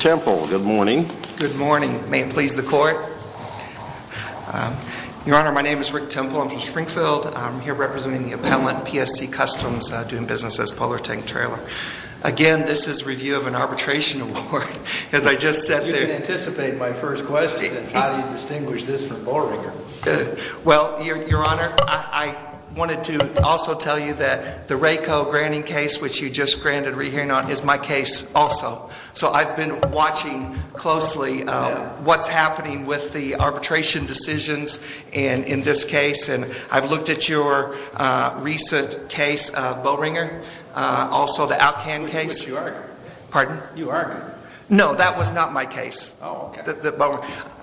Good morning. May it please the court? Your Honor, my name is Rick Temple. I'm from Springfield. I'm here representing the appellant, PSC Customs, doing business as Polar Tank Trailer. Again, this is a review of an arbitration award. You can anticipate my first question is, how do you distinguish this from Boerwinger? Well, Your Honor, I wanted to also tell you that the RACO granting case, which you just granted re-hearing on, is my case also. So I've been watching closely what's happening with the arbitration decisions in this case. And I've looked at your recent case, Boerwinger, also the OutKan case. Which you argued. Pardon? You argued. No, that was not my case. Oh, okay.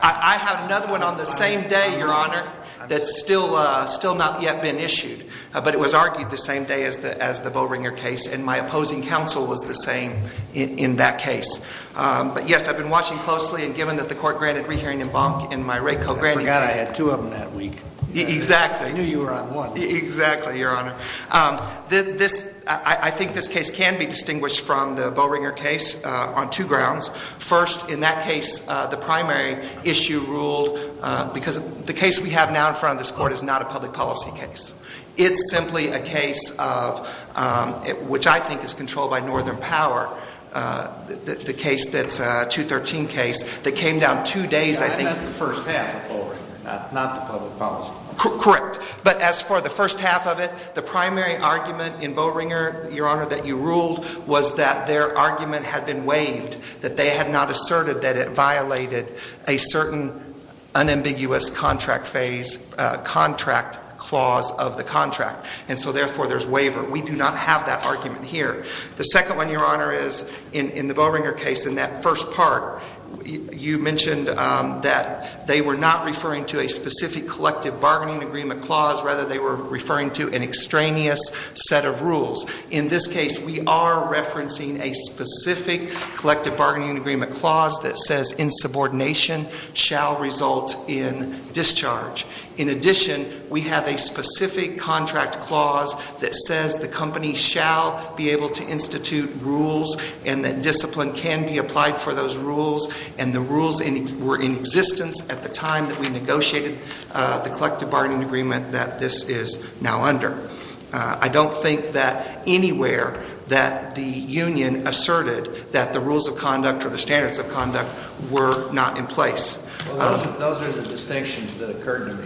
I had another one on the same day, Your Honor, that's still not yet been issued. But it was argued the same day as the Boerwinger case, and my opposing counsel was the same in that case. But yes, I've been watching closely, and given that the court granted re-hearing in Bonk in my RACO granting case. I forgot I had two of them that week. Exactly. I knew you were on one. Exactly, Your Honor. I think this case can be distinguished from the Boerwinger case on two grounds. First, in that case, the primary issue ruled, because the case we have now in front of this court is not a public policy case. It's simply a case of, which I think is controlled by Northern Power, the case that's a 213 case that came down two days, I think. That's the first half of Boerwinger, not the public policy one. Correct. But as for the first half of it, the primary argument in Boerwinger, Your Honor, that you ruled was that their argument had been waived, that they had not asserted that it violated a certain unambiguous contract phase, contract clause of the contract. And so therefore, there's waiver. We do not have that argument here. The second one, Your Honor, is in the Boerwinger case, in that first part, you mentioned that they were not referring to a specific collective bargaining agreement clause. Rather, they were referring to an extraneous set of rules. In this case, we are referencing a specific collective bargaining agreement clause that says insubordination shall result in discharge. In addition, we have a specific contract clause that says the company shall be able to institute rules, and that discipline can be applied for those rules. And the rules were in existence at the time that we negotiated the collective bargaining agreement that this is now under. I don't think that anywhere that the union asserted that the rules of conduct or the standards of conduct were not in place. Well, those are the distinctions that occurred in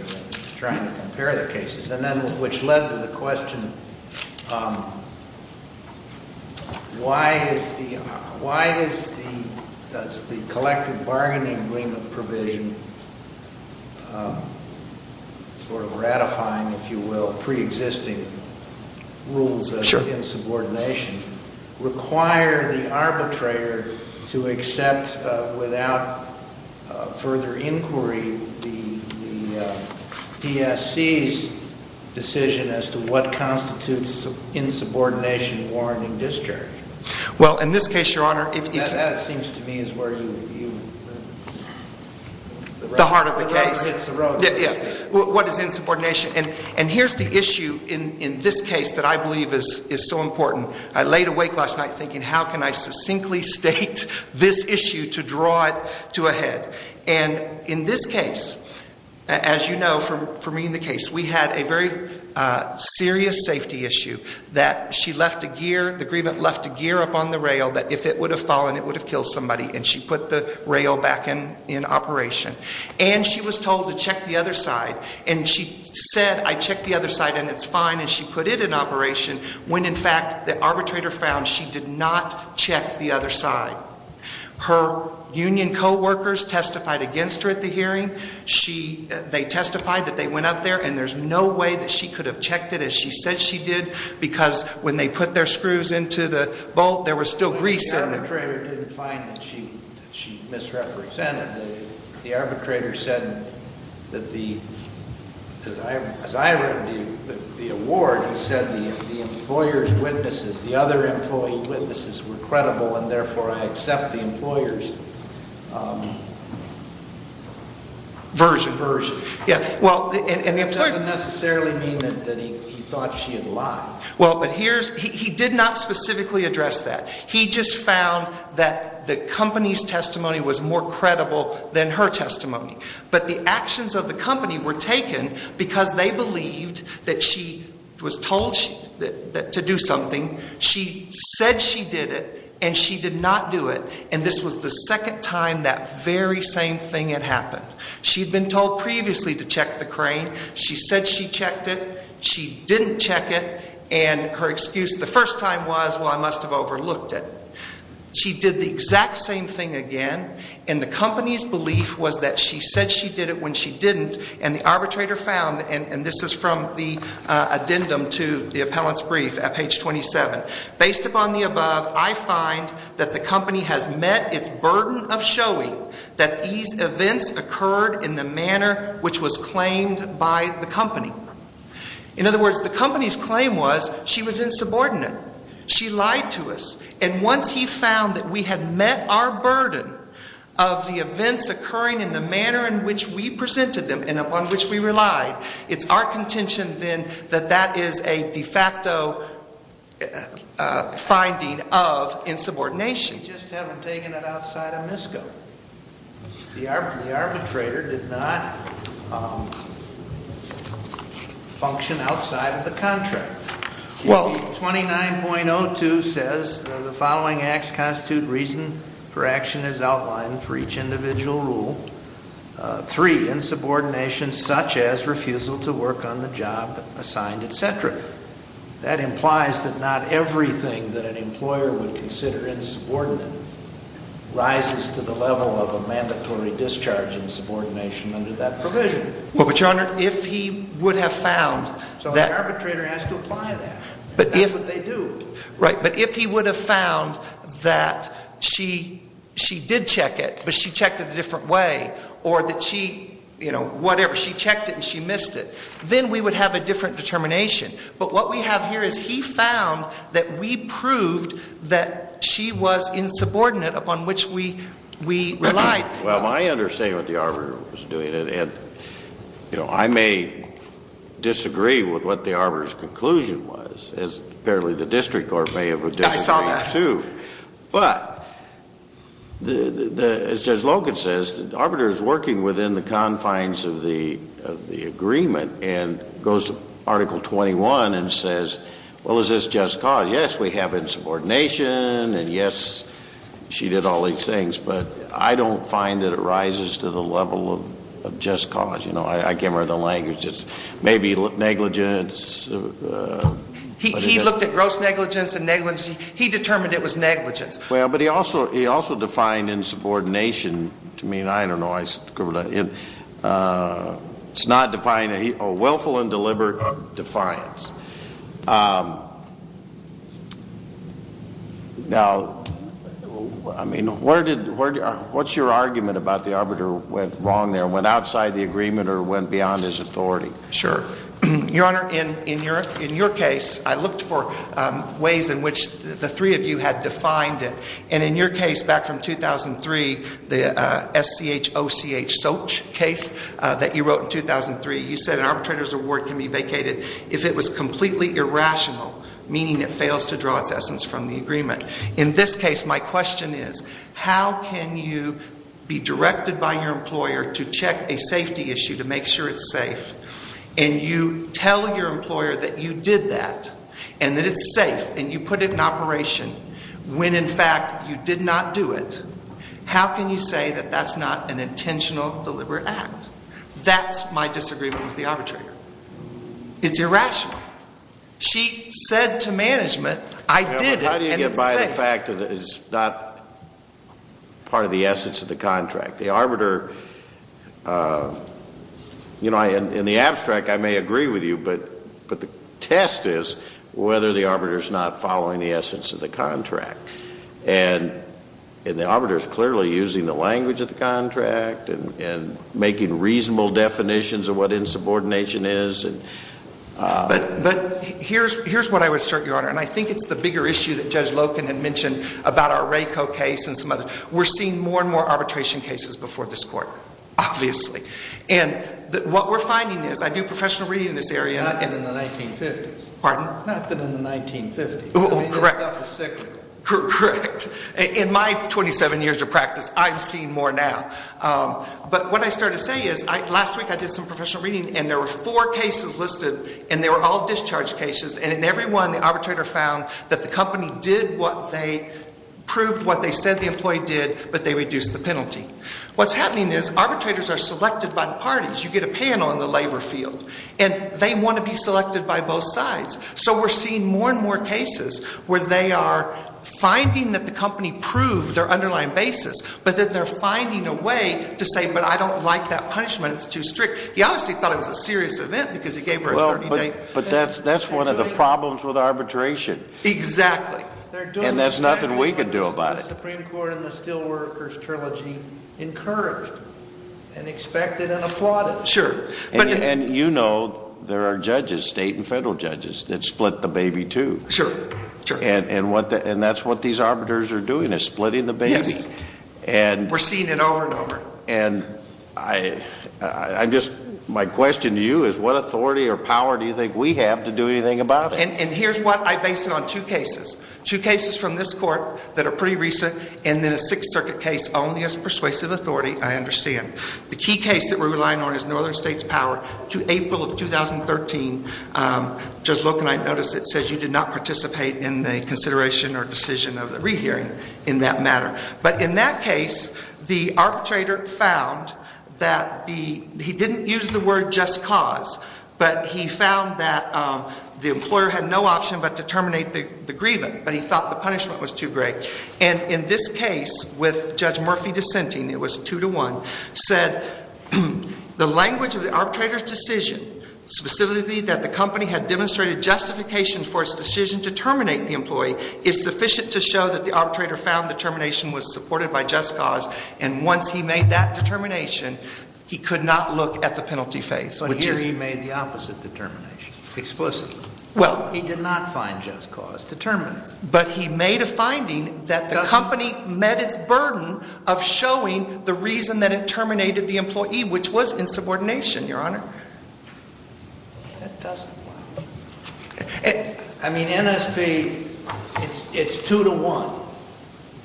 trying to compare the cases, and then which led to the question, why is the collective bargaining agreement provision sort of ratifying, if you will, preexisting rules of insubordination, require the arbitrator to accept, without further inquiry, the PSC's decision as to what constitutes insubordination warranting discharge? Well, in this case, Your Honor, if you... That seems to me is where you... The heart of the case. The road hits the road. What is insubordination? And here's the issue in this case that I believe is so important. I laid awake last night thinking, how can I succinctly state this issue to draw it to a head? And in this case, as you know, for me in the case, we had a very serious safety issue that she left a gear, the agreement left a gear up on the rail that if it would have fallen, it would have killed somebody, and she put the rail back in operation. And she was told to check the other side, and she said, I checked the other side and it's fine, and she put it in operation when, in fact, the arbitrator found she did not check the other side. Her union coworkers testified against her at the hearing. They testified that they went up there and there's no way that she could have checked it as she said she did because when they put their screws into the bolt, there was still grease in there. The arbitrator didn't find that she misrepresented. The arbitrator said that the, as I read the award, he said the employer's witnesses, the other employee witnesses were credible, and therefore I accept the employer's version. It doesn't necessarily mean that he thought she had lied. Well, but here's, he did not specifically address that. He just found that the company's testimony was more credible than her testimony. But the actions of the company were taken because they believed that she was told to do something. She said she did it, and she did not do it, and this was the second time that very same thing had happened. She'd been told previously to check the crane. She said she checked it. She didn't check it. And her excuse the first time was, well, I must have overlooked it. She did the exact same thing again, and the company's belief was that she said she did it when she didn't, and the arbitrator found, and this is from the addendum to the appellant's brief at page 27, based upon the above, I find that the company has met its burden of showing that these events occurred in the manner which was claimed by the company. In other words, the company's claim was she was insubordinate. She lied to us. And once he found that we had met our burden of the events occurring in the manner in which we presented them and upon which we relied, it's our contention then that that is a de facto finding of insubordination. We just haven't taken it outside of MISCO. The arbitrator did not function outside of the contract. Well, 29.02 says the following acts constitute reason for action as outlined for each individual rule. Three, insubordination such as refusal to work on the job assigned, etc. That implies that not everything that an employer would consider insubordinate rises to the level of a mandatory discharge insubordination under that provision. Well, but, Your Honor, if he would have found that So the arbitrator has to apply that. That's what they do. Right. But if he would have found that she did check it, but she checked it a different way, or that she, you know, whatever, she checked it and she missed it, then we would have a different determination. But what we have here is he found that we proved that she was insubordinate upon which we relied. Well, I understand what the arbiter was doing. And, you know, I may disagree with what the arbiter's conclusion was, as apparently the district court may have disagreed too. I saw that. But as Judge Logan says, the arbiter is working within the confines of the agreement and goes to Article 21 and says, well, is this just cause? Yes, we have insubordination, and yes, she did all these things. But I don't find that it rises to the level of just cause. You know, I came here with a language that's maybe negligence. He looked at gross negligence and negligence. He determined it was negligence. Well, but he also defined insubordination to mean, I don't know, it's not defined, a willful and deliberate defiance. Now, I mean, what's your argument about the arbiter went wrong there, went outside the agreement or went beyond his authority? Sure. Your Honor, in your case, I looked for ways in which the three of you had defined it. And in your case back from 2003, the SCH-OCH-SOCH case that you wrote in 2003, you said an arbitrator's award can be vacated if it was completely irrational, meaning it fails to draw its essence from the agreement. In this case, my question is, how can you be directed by your employer to check a safety issue to make sure it's safe and you tell your employer that you did that and that it's safe and you put it in operation when, in fact, you did not do it, how can you say that that's not an intentional, deliberate act? That's my disagreement with the arbitrator. It's irrational. She said to management, I did it and it's safe. How do you get by the fact that it's not part of the essence of the contract? The arbiter, you know, in the abstract I may agree with you, but the test is whether the arbiter is not following the essence of the contract. And the arbiter is clearly using the language of the contract and making reasonable definitions of what insubordination is. But here's what I would assert, Your Honor, and I think it's the bigger issue that Judge Loken had mentioned about our RACO case and some others, we're seeing more and more arbitration cases before this court, obviously. And what we're finding is I do professional reading in this area. Not in the 1950s. Pardon? Not that in the 1950s. Correct. I mean, that stuff was secret. Correct. In my 27 years of practice, I'm seeing more now. But what I started to say is last week I did some professional reading and there were four cases listed and they were all discharge cases, and in every one the arbitrator found that the company did what they proved what they said the employee did, but they reduced the penalty. What's happening is arbitrators are selected by the parties. You get a panel in the labor field, and they want to be selected by both sides. So we're seeing more and more cases where they are finding that the company proved their underlying basis, but then they're finding a way to say, but I don't like that punishment, it's too strict. He obviously thought it was a serious event because he gave her a 30-day. But that's one of the problems with arbitration. Exactly. And there's nothing we can do about it. The Supreme Court in the Steelworkers Trilogy encouraged and expected and applauded. Sure. And you know there are judges, state and federal judges, that split the baby, too. Sure. And that's what these arbiters are doing is splitting the baby. Yes. We're seeing it over and over. And I'm just, my question to you is what authority or power do you think we have to do anything about it? And here's what I base it on, two cases. Two cases from this court that are pretty recent, and then a Sixth Circuit case only as persuasive authority, I understand. The key case that we're relying on is Northern States Power to April of 2013. Judge Locke and I noticed it says you did not participate in the consideration or decision of the rehearing in that matter. But in that case, the arbitrator found that the, he didn't use the word just cause, but he found that the employer had no option but to terminate the grievance. But he thought the punishment was too great. And in this case, with Judge Murphy dissenting, it was two to one, said the language of the arbitrator's decision, specifically that the company had demonstrated justification for its decision to terminate the employee, is sufficient to show that the arbitrator found the termination was supported by just cause. And once he made that determination, he could not look at the penalty phase, which is- But here he made the opposite determination, explicitly. Well- He did not find just cause to terminate. But he made a finding that the company met its burden of showing the reason that it terminated the employee, which was insubordination, Your Honor. That doesn't work. I mean, NSP, it's two to one.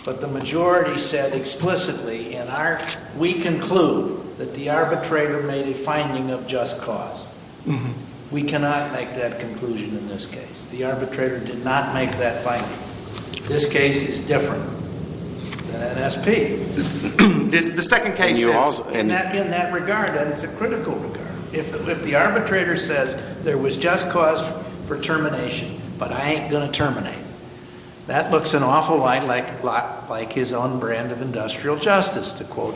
But the majority said explicitly in our, we conclude that the arbitrator made a finding of just cause. We cannot make that conclusion in this case. The arbitrator did not make that finding. This case is different than NSP. The second case is- In that regard, and it's a critical regard. If the arbitrator says there was just cause for termination, but I ain't going to terminate, that looks an awful lot like his own brand of industrial justice, to quote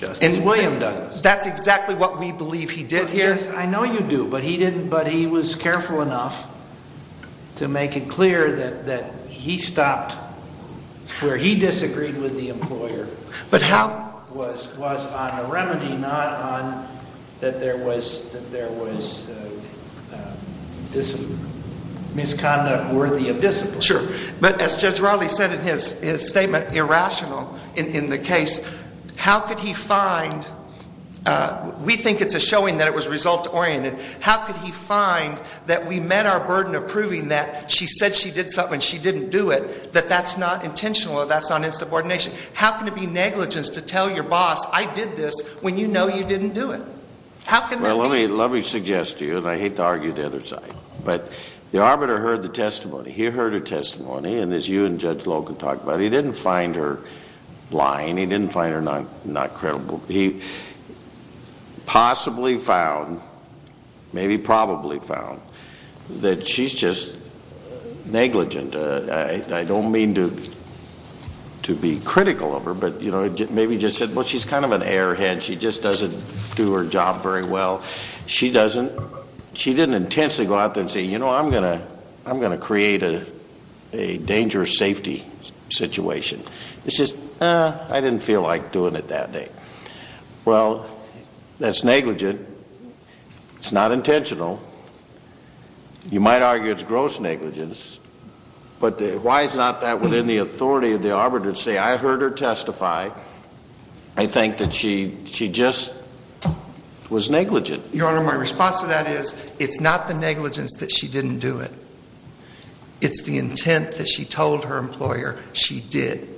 Justice William Douglas. That's exactly what we believe he did here. Yes, I know you do. But he was careful enough to make it clear that he stopped where he disagreed with the employer. But how- Was on a remedy, not on that there was misconduct worthy of discipline. Sure. But as Judge Raleigh said in his statement, irrational in the case, how could he find, we think it's a showing that it was result-oriented. How could he find that we met our burden of proving that she said she did something and she didn't do it, that that's not intentional or that's not insubordination. How can it be negligence to tell your boss I did this when you know you didn't do it? How can that be? Well, let me suggest to you, and I hate to argue the other side, but the arbiter heard the testimony. He heard her testimony, and as you and Judge Logan talked about, he didn't find her lying. He didn't find her not credible. He possibly found, maybe probably found, that she's just negligent. I don't mean to be critical of her, but maybe just said, well, she's kind of an airhead. She just doesn't do her job very well. She didn't intensely go out there and say, you know, I'm going to create a dangerous safety situation. It's just, eh, I didn't feel like doing it that day. Well, that's negligent. It's not intentional. You might argue it's gross negligence, but why is not that within the authority of the arbiter to say, I heard her testify. I think that she just was negligent. Your Honor, my response to that is it's not the negligence that she didn't do it. It's the intent that she told her employer she did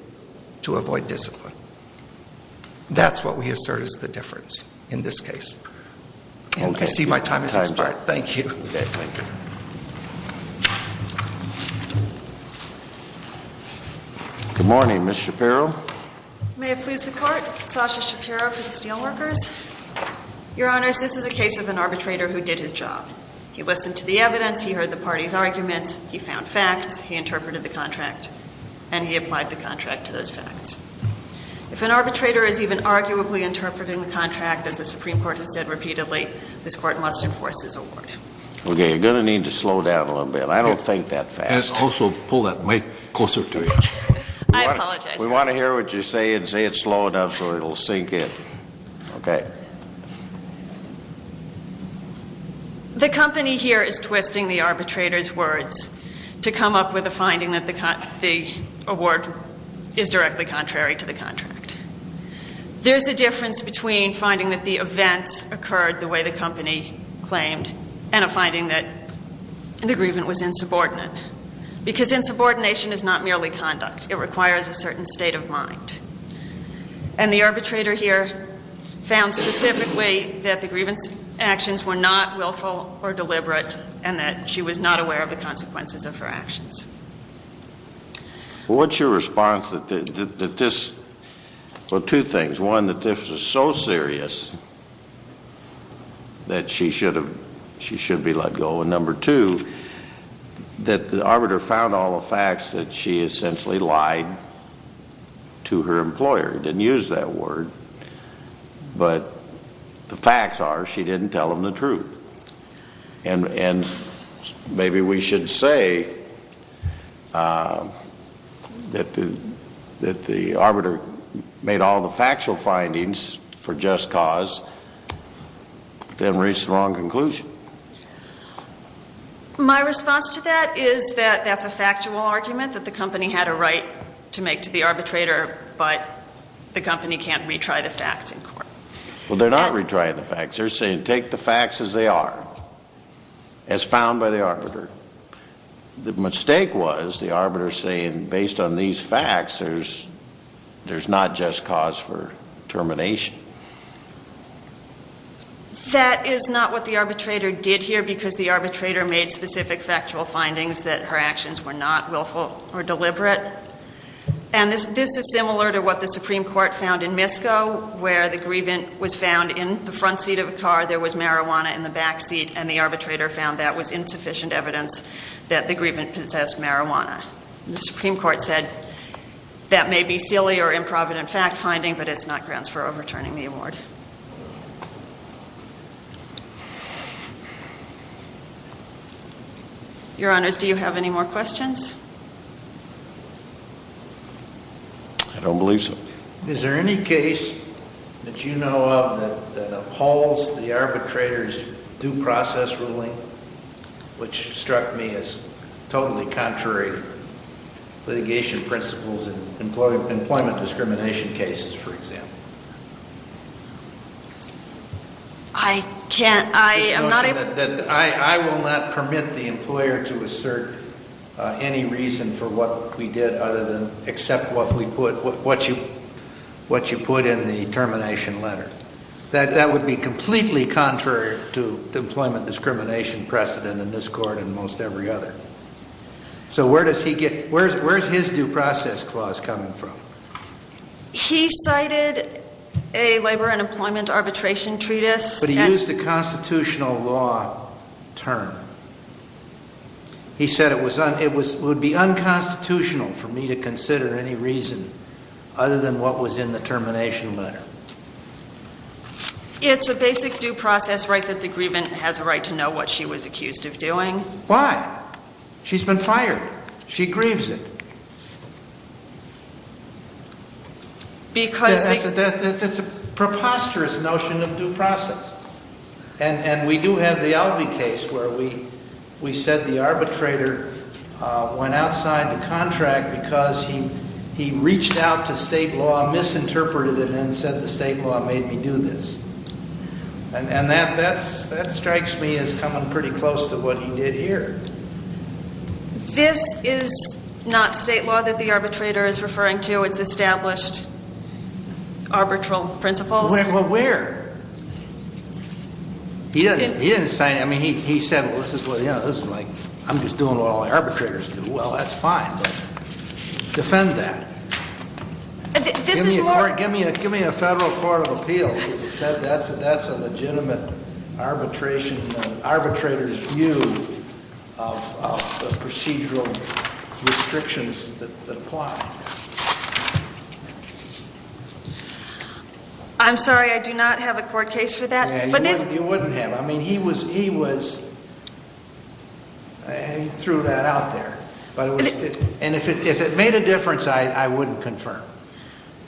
to avoid discipline. That's what we assert is the difference in this case. I see my time has expired. Thank you. Okay, thank you. Good morning, Ms. Shapiro. May it please the Court. Sasha Shapiro for the Steelworkers. Your Honors, this is a case of an arbitrator who did his job. He listened to the evidence. He heard the party's arguments. He found facts. He interpreted the contract, and he applied the contract to those facts. If an arbitrator is even arguably interpreting the contract, as the Supreme Court has said repeatedly, this Court must enforce his award. Okay, you're going to need to slow down a little bit. I don't think that fast. Also, pull that mic closer to you. I apologize. We want to hear what you say and say it slow enough so it will sink in. Okay. The company here is twisting the arbitrator's words to come up with a finding that the award is directly contrary to the contract. There's a difference between finding that the events occurred the way the company claimed and a finding that the grievance was insubordinate, because insubordination is not merely conduct. And the arbitrator here found specifically that the grievance actions were not willful or deliberate and that she was not aware of the consequences of her actions. What's your response to this? Well, two things. One, that this is so serious that she should be let go. And number two, that the arbitrator found all the facts that she essentially lied to her employer. She didn't use that word, but the facts are she didn't tell them the truth. And maybe we should say that the arbiter made all the factual findings for just cause, but then reached the wrong conclusion. My response to that is that that's a factual argument that the company had a right to make to the arbitrator, but the company can't retry the facts in court. They're saying take the facts as they are, as found by the arbiter. The mistake was the arbiter saying, based on these facts, there's not just cause for termination. That is not what the arbitrator did here because the arbitrator made specific factual findings that her actions were not willful or deliberate. And this is similar to what the Supreme Court found in Misko, where the grievant was found in the front seat of a car, there was marijuana in the back seat, and the arbitrator found that was insufficient evidence that the grievant possessed marijuana. The Supreme Court said that may be silly or improvident fact-finding, but it's not grounds for overturning the award. Your Honors, do you have any more questions? I don't believe so. Is there any case that you know of that upholds the arbitrator's due process ruling, which struck me as totally contrary to litigation principles in employment discrimination cases, for example? I can't. I am not a... any reason for what we did other than accept what you put in the termination letter. That would be completely contrary to employment discrimination precedent in this Court and most every other. So where does he get... where's his due process clause coming from? He cited a labor and employment arbitration treatise. But he used a constitutional law term. He said it would be unconstitutional for me to consider any reason other than what was in the termination letter. It's a basic due process right that the grievant has a right to know what she was accused of doing. Why? She's been fired. She grieves it. Because... That's a preposterous notion of due process. And we do have the Alvey case where we said the arbitrator went outside the contract because he reached out to state law, misinterpreted it, and said the state law made me do this. And that strikes me as coming pretty close to what he did here. This is not state law that the arbitrator is referring to. It's established arbitral principles. Well, where? He didn't say... I mean, he said, well, this is like, I'm just doing what all the arbitrators do. Well, that's fine. Defend that. This is more... Give me a federal court of appeals if you said that's a legitimate arbitration... arbitrator's view of the procedural restrictions that apply. I'm sorry, I do not have a court case for that. Yeah, you wouldn't have. I mean, he was... He threw that out there. And if it made a difference, I wouldn't confirm.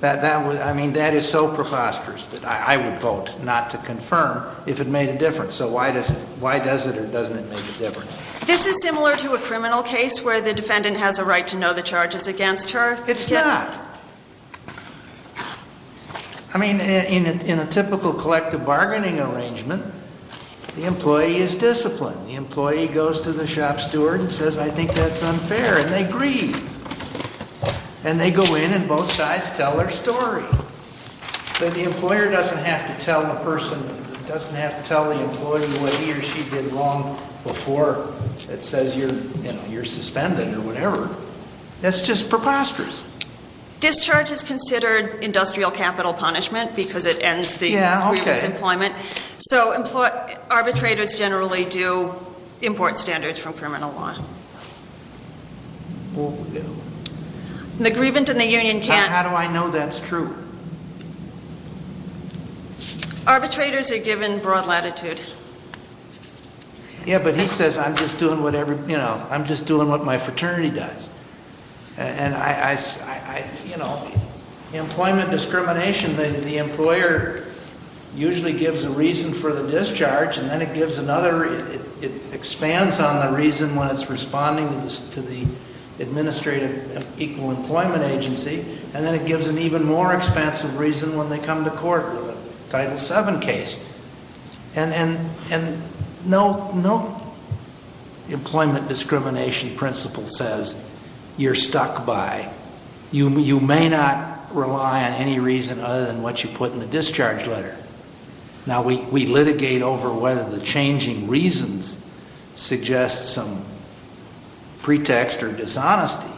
I mean, that is so preposterous that I would vote not to confirm if it made a difference. This is similar to a criminal case where the defendant has a right to know the charges against her. It's not. I mean, in a typical collective bargaining arrangement, the employee is disciplined. The employee goes to the shop steward and says, I think that's unfair, and they agree. And they go in and both sides tell their story. But the employer doesn't have to tell the person, doesn't have to tell the employee what he or she did wrong before. It says you're suspended or whatever. That's just preposterous. Discharge is considered industrial capital punishment because it ends the grievant's employment. So arbitrators generally do import standards from criminal law. The grievant and the union can't... How do I know that's true? Arbitrators are given broad latitude. Yeah, but he says, I'm just doing what my fraternity does. And, you know, employment discrimination, the employer usually gives a reason for the discharge, and then it gives another, it expands on the reason when it's responding to the administrative equal employment agency, and then it gives an even more expansive reason when they come to court with a Title VII case. And no employment discrimination principle says you're stuck by, you may not rely on any reason other than what you put in the discharge letter. Now, we litigate over whether the changing reasons suggest some pretext or dishonesty,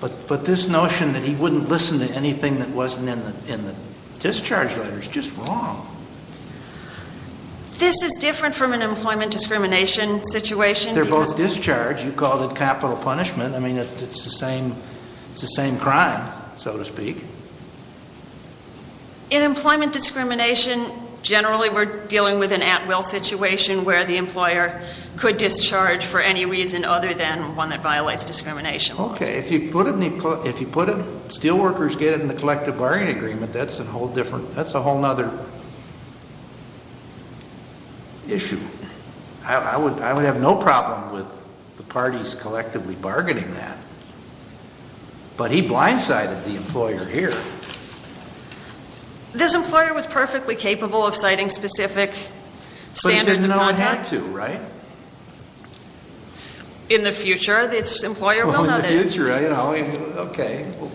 but this notion that he wouldn't listen to anything that wasn't in the discharge letter is just wrong. This is different from an employment discrimination situation because... They're both discharged. You called it capital punishment. I mean, it's the same crime, so to speak. In employment discrimination, generally we're dealing with an at-will situation where the employer could discharge for any reason other than one that violates discrimination law. Okay, if you put it, steelworkers get it in the collective bargaining agreement, that's a whole other issue. I would have no problem with the parties collectively bargaining that. But he blindsided the employer here. This employer was perfectly capable of citing specific standards of conduct. But he didn't know he had to, right? In the future, this employer will know that. In the future, you know, okay, we'll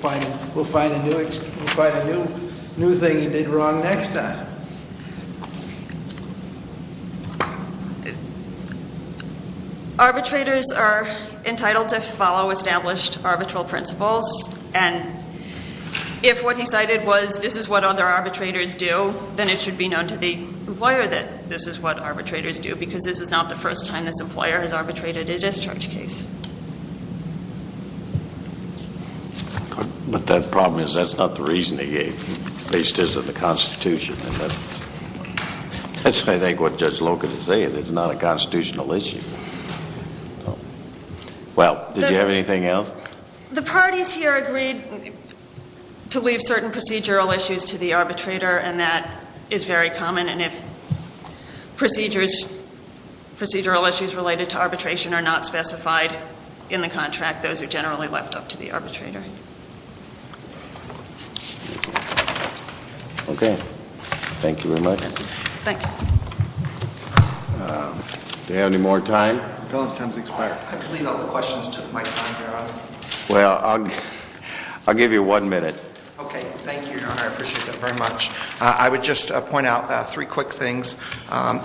find a new thing he did wrong next time. Arbitrators are entitled to follow established arbitral principles, and if what he cited was this is what other arbitrators do, then it should be known to the employer that this is what arbitrators do because this is not the first time this employer has arbitrated a discharge case. But the problem is that's not the reasoning he based his in the Constitution. That's, I think, what Judge Logan is saying. It's not a Constitutional issue. Well, did you have anything else? The parties here agreed to leave certain procedural issues to the arbitrator, and that is very common. And if procedural issues related to arbitration are not specified in the contract, those are generally left up to the arbitrator. Okay. Okay. Thank you very much. Thank you. Do we have any more time? Your time has expired. I believe all the questions took my time, Your Honor. Well, I'll give you one minute. Okay. Thank you, Your Honor. I appreciate that very much. I would just point out three quick things.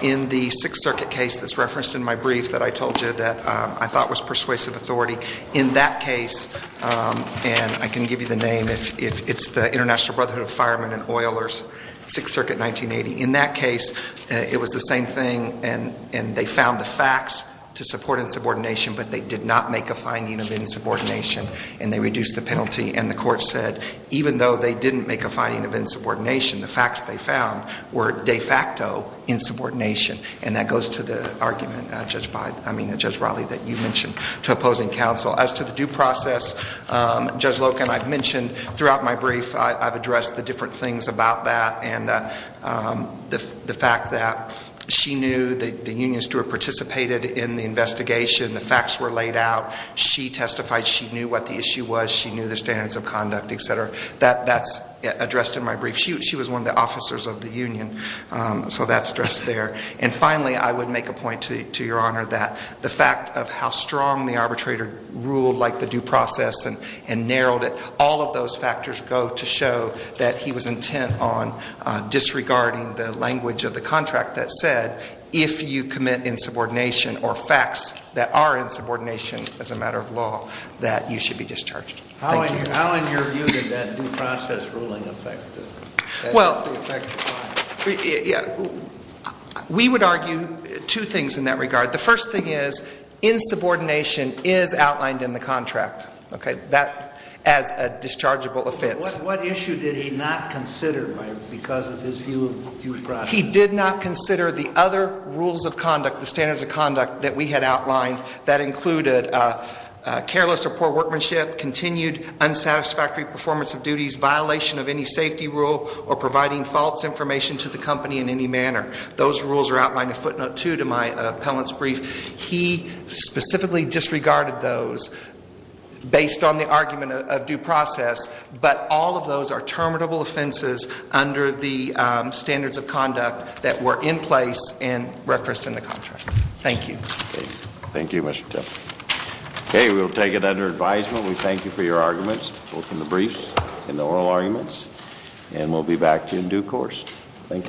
In the Sixth Circuit case that's referenced in my brief that I told you that I thought was persuasive authority, in that case, and I can give you the name if it's the International Brotherhood of Firemen and Oilers, Sixth Circuit, 1980. In that case, it was the same thing, and they found the facts to support insubordination, but they did not make a finding of insubordination, and they reduced the penalty. And the court said even though they didn't make a finding of insubordination, the facts they found were de facto insubordination. And that goes to the argument, Judge Raleigh, that you mentioned to opposing counsel. As to the due process, Judge Loken, I've mentioned throughout my brief, I've addressed the different things about that and the fact that she knew, the union steward participated in the investigation, the facts were laid out, she testified, she knew what the issue was, she knew the standards of conduct, et cetera. That's addressed in my brief. She was one of the officers of the union, so that's addressed there. And finally, I would make a point to Your Honor that the fact of how strong the arbitrator ruled like the due process and narrowed it, all of those factors go to show that he was intent on disregarding the language of the contract that said if you commit insubordination or facts that are insubordination as a matter of law, that you should be discharged. Thank you. How in your view did that due process ruling affect it? Well, we would argue two things in that regard. The first thing is insubordination is outlined in the contract, okay, as a dischargeable offense. What issue did he not consider because of his view of due process? He did not consider the other rules of conduct, the standards of conduct that we had outlined that included careless or poor workmanship, continued unsatisfactory performance of duties, violation of any safety rule, or providing false information to the company in any manner. Those rules are outlined in footnote 2 to my appellant's brief. He specifically disregarded those based on the argument of due process, but all of those are terminable offenses under the standards of conduct that were in place and referenced in the contract. Thank you. Thank you, Mr. Tim. Okay, we'll take it under advisement. We thank you for your arguments both in the brief and the oral arguments, and we'll be back to you in due course. Thank you.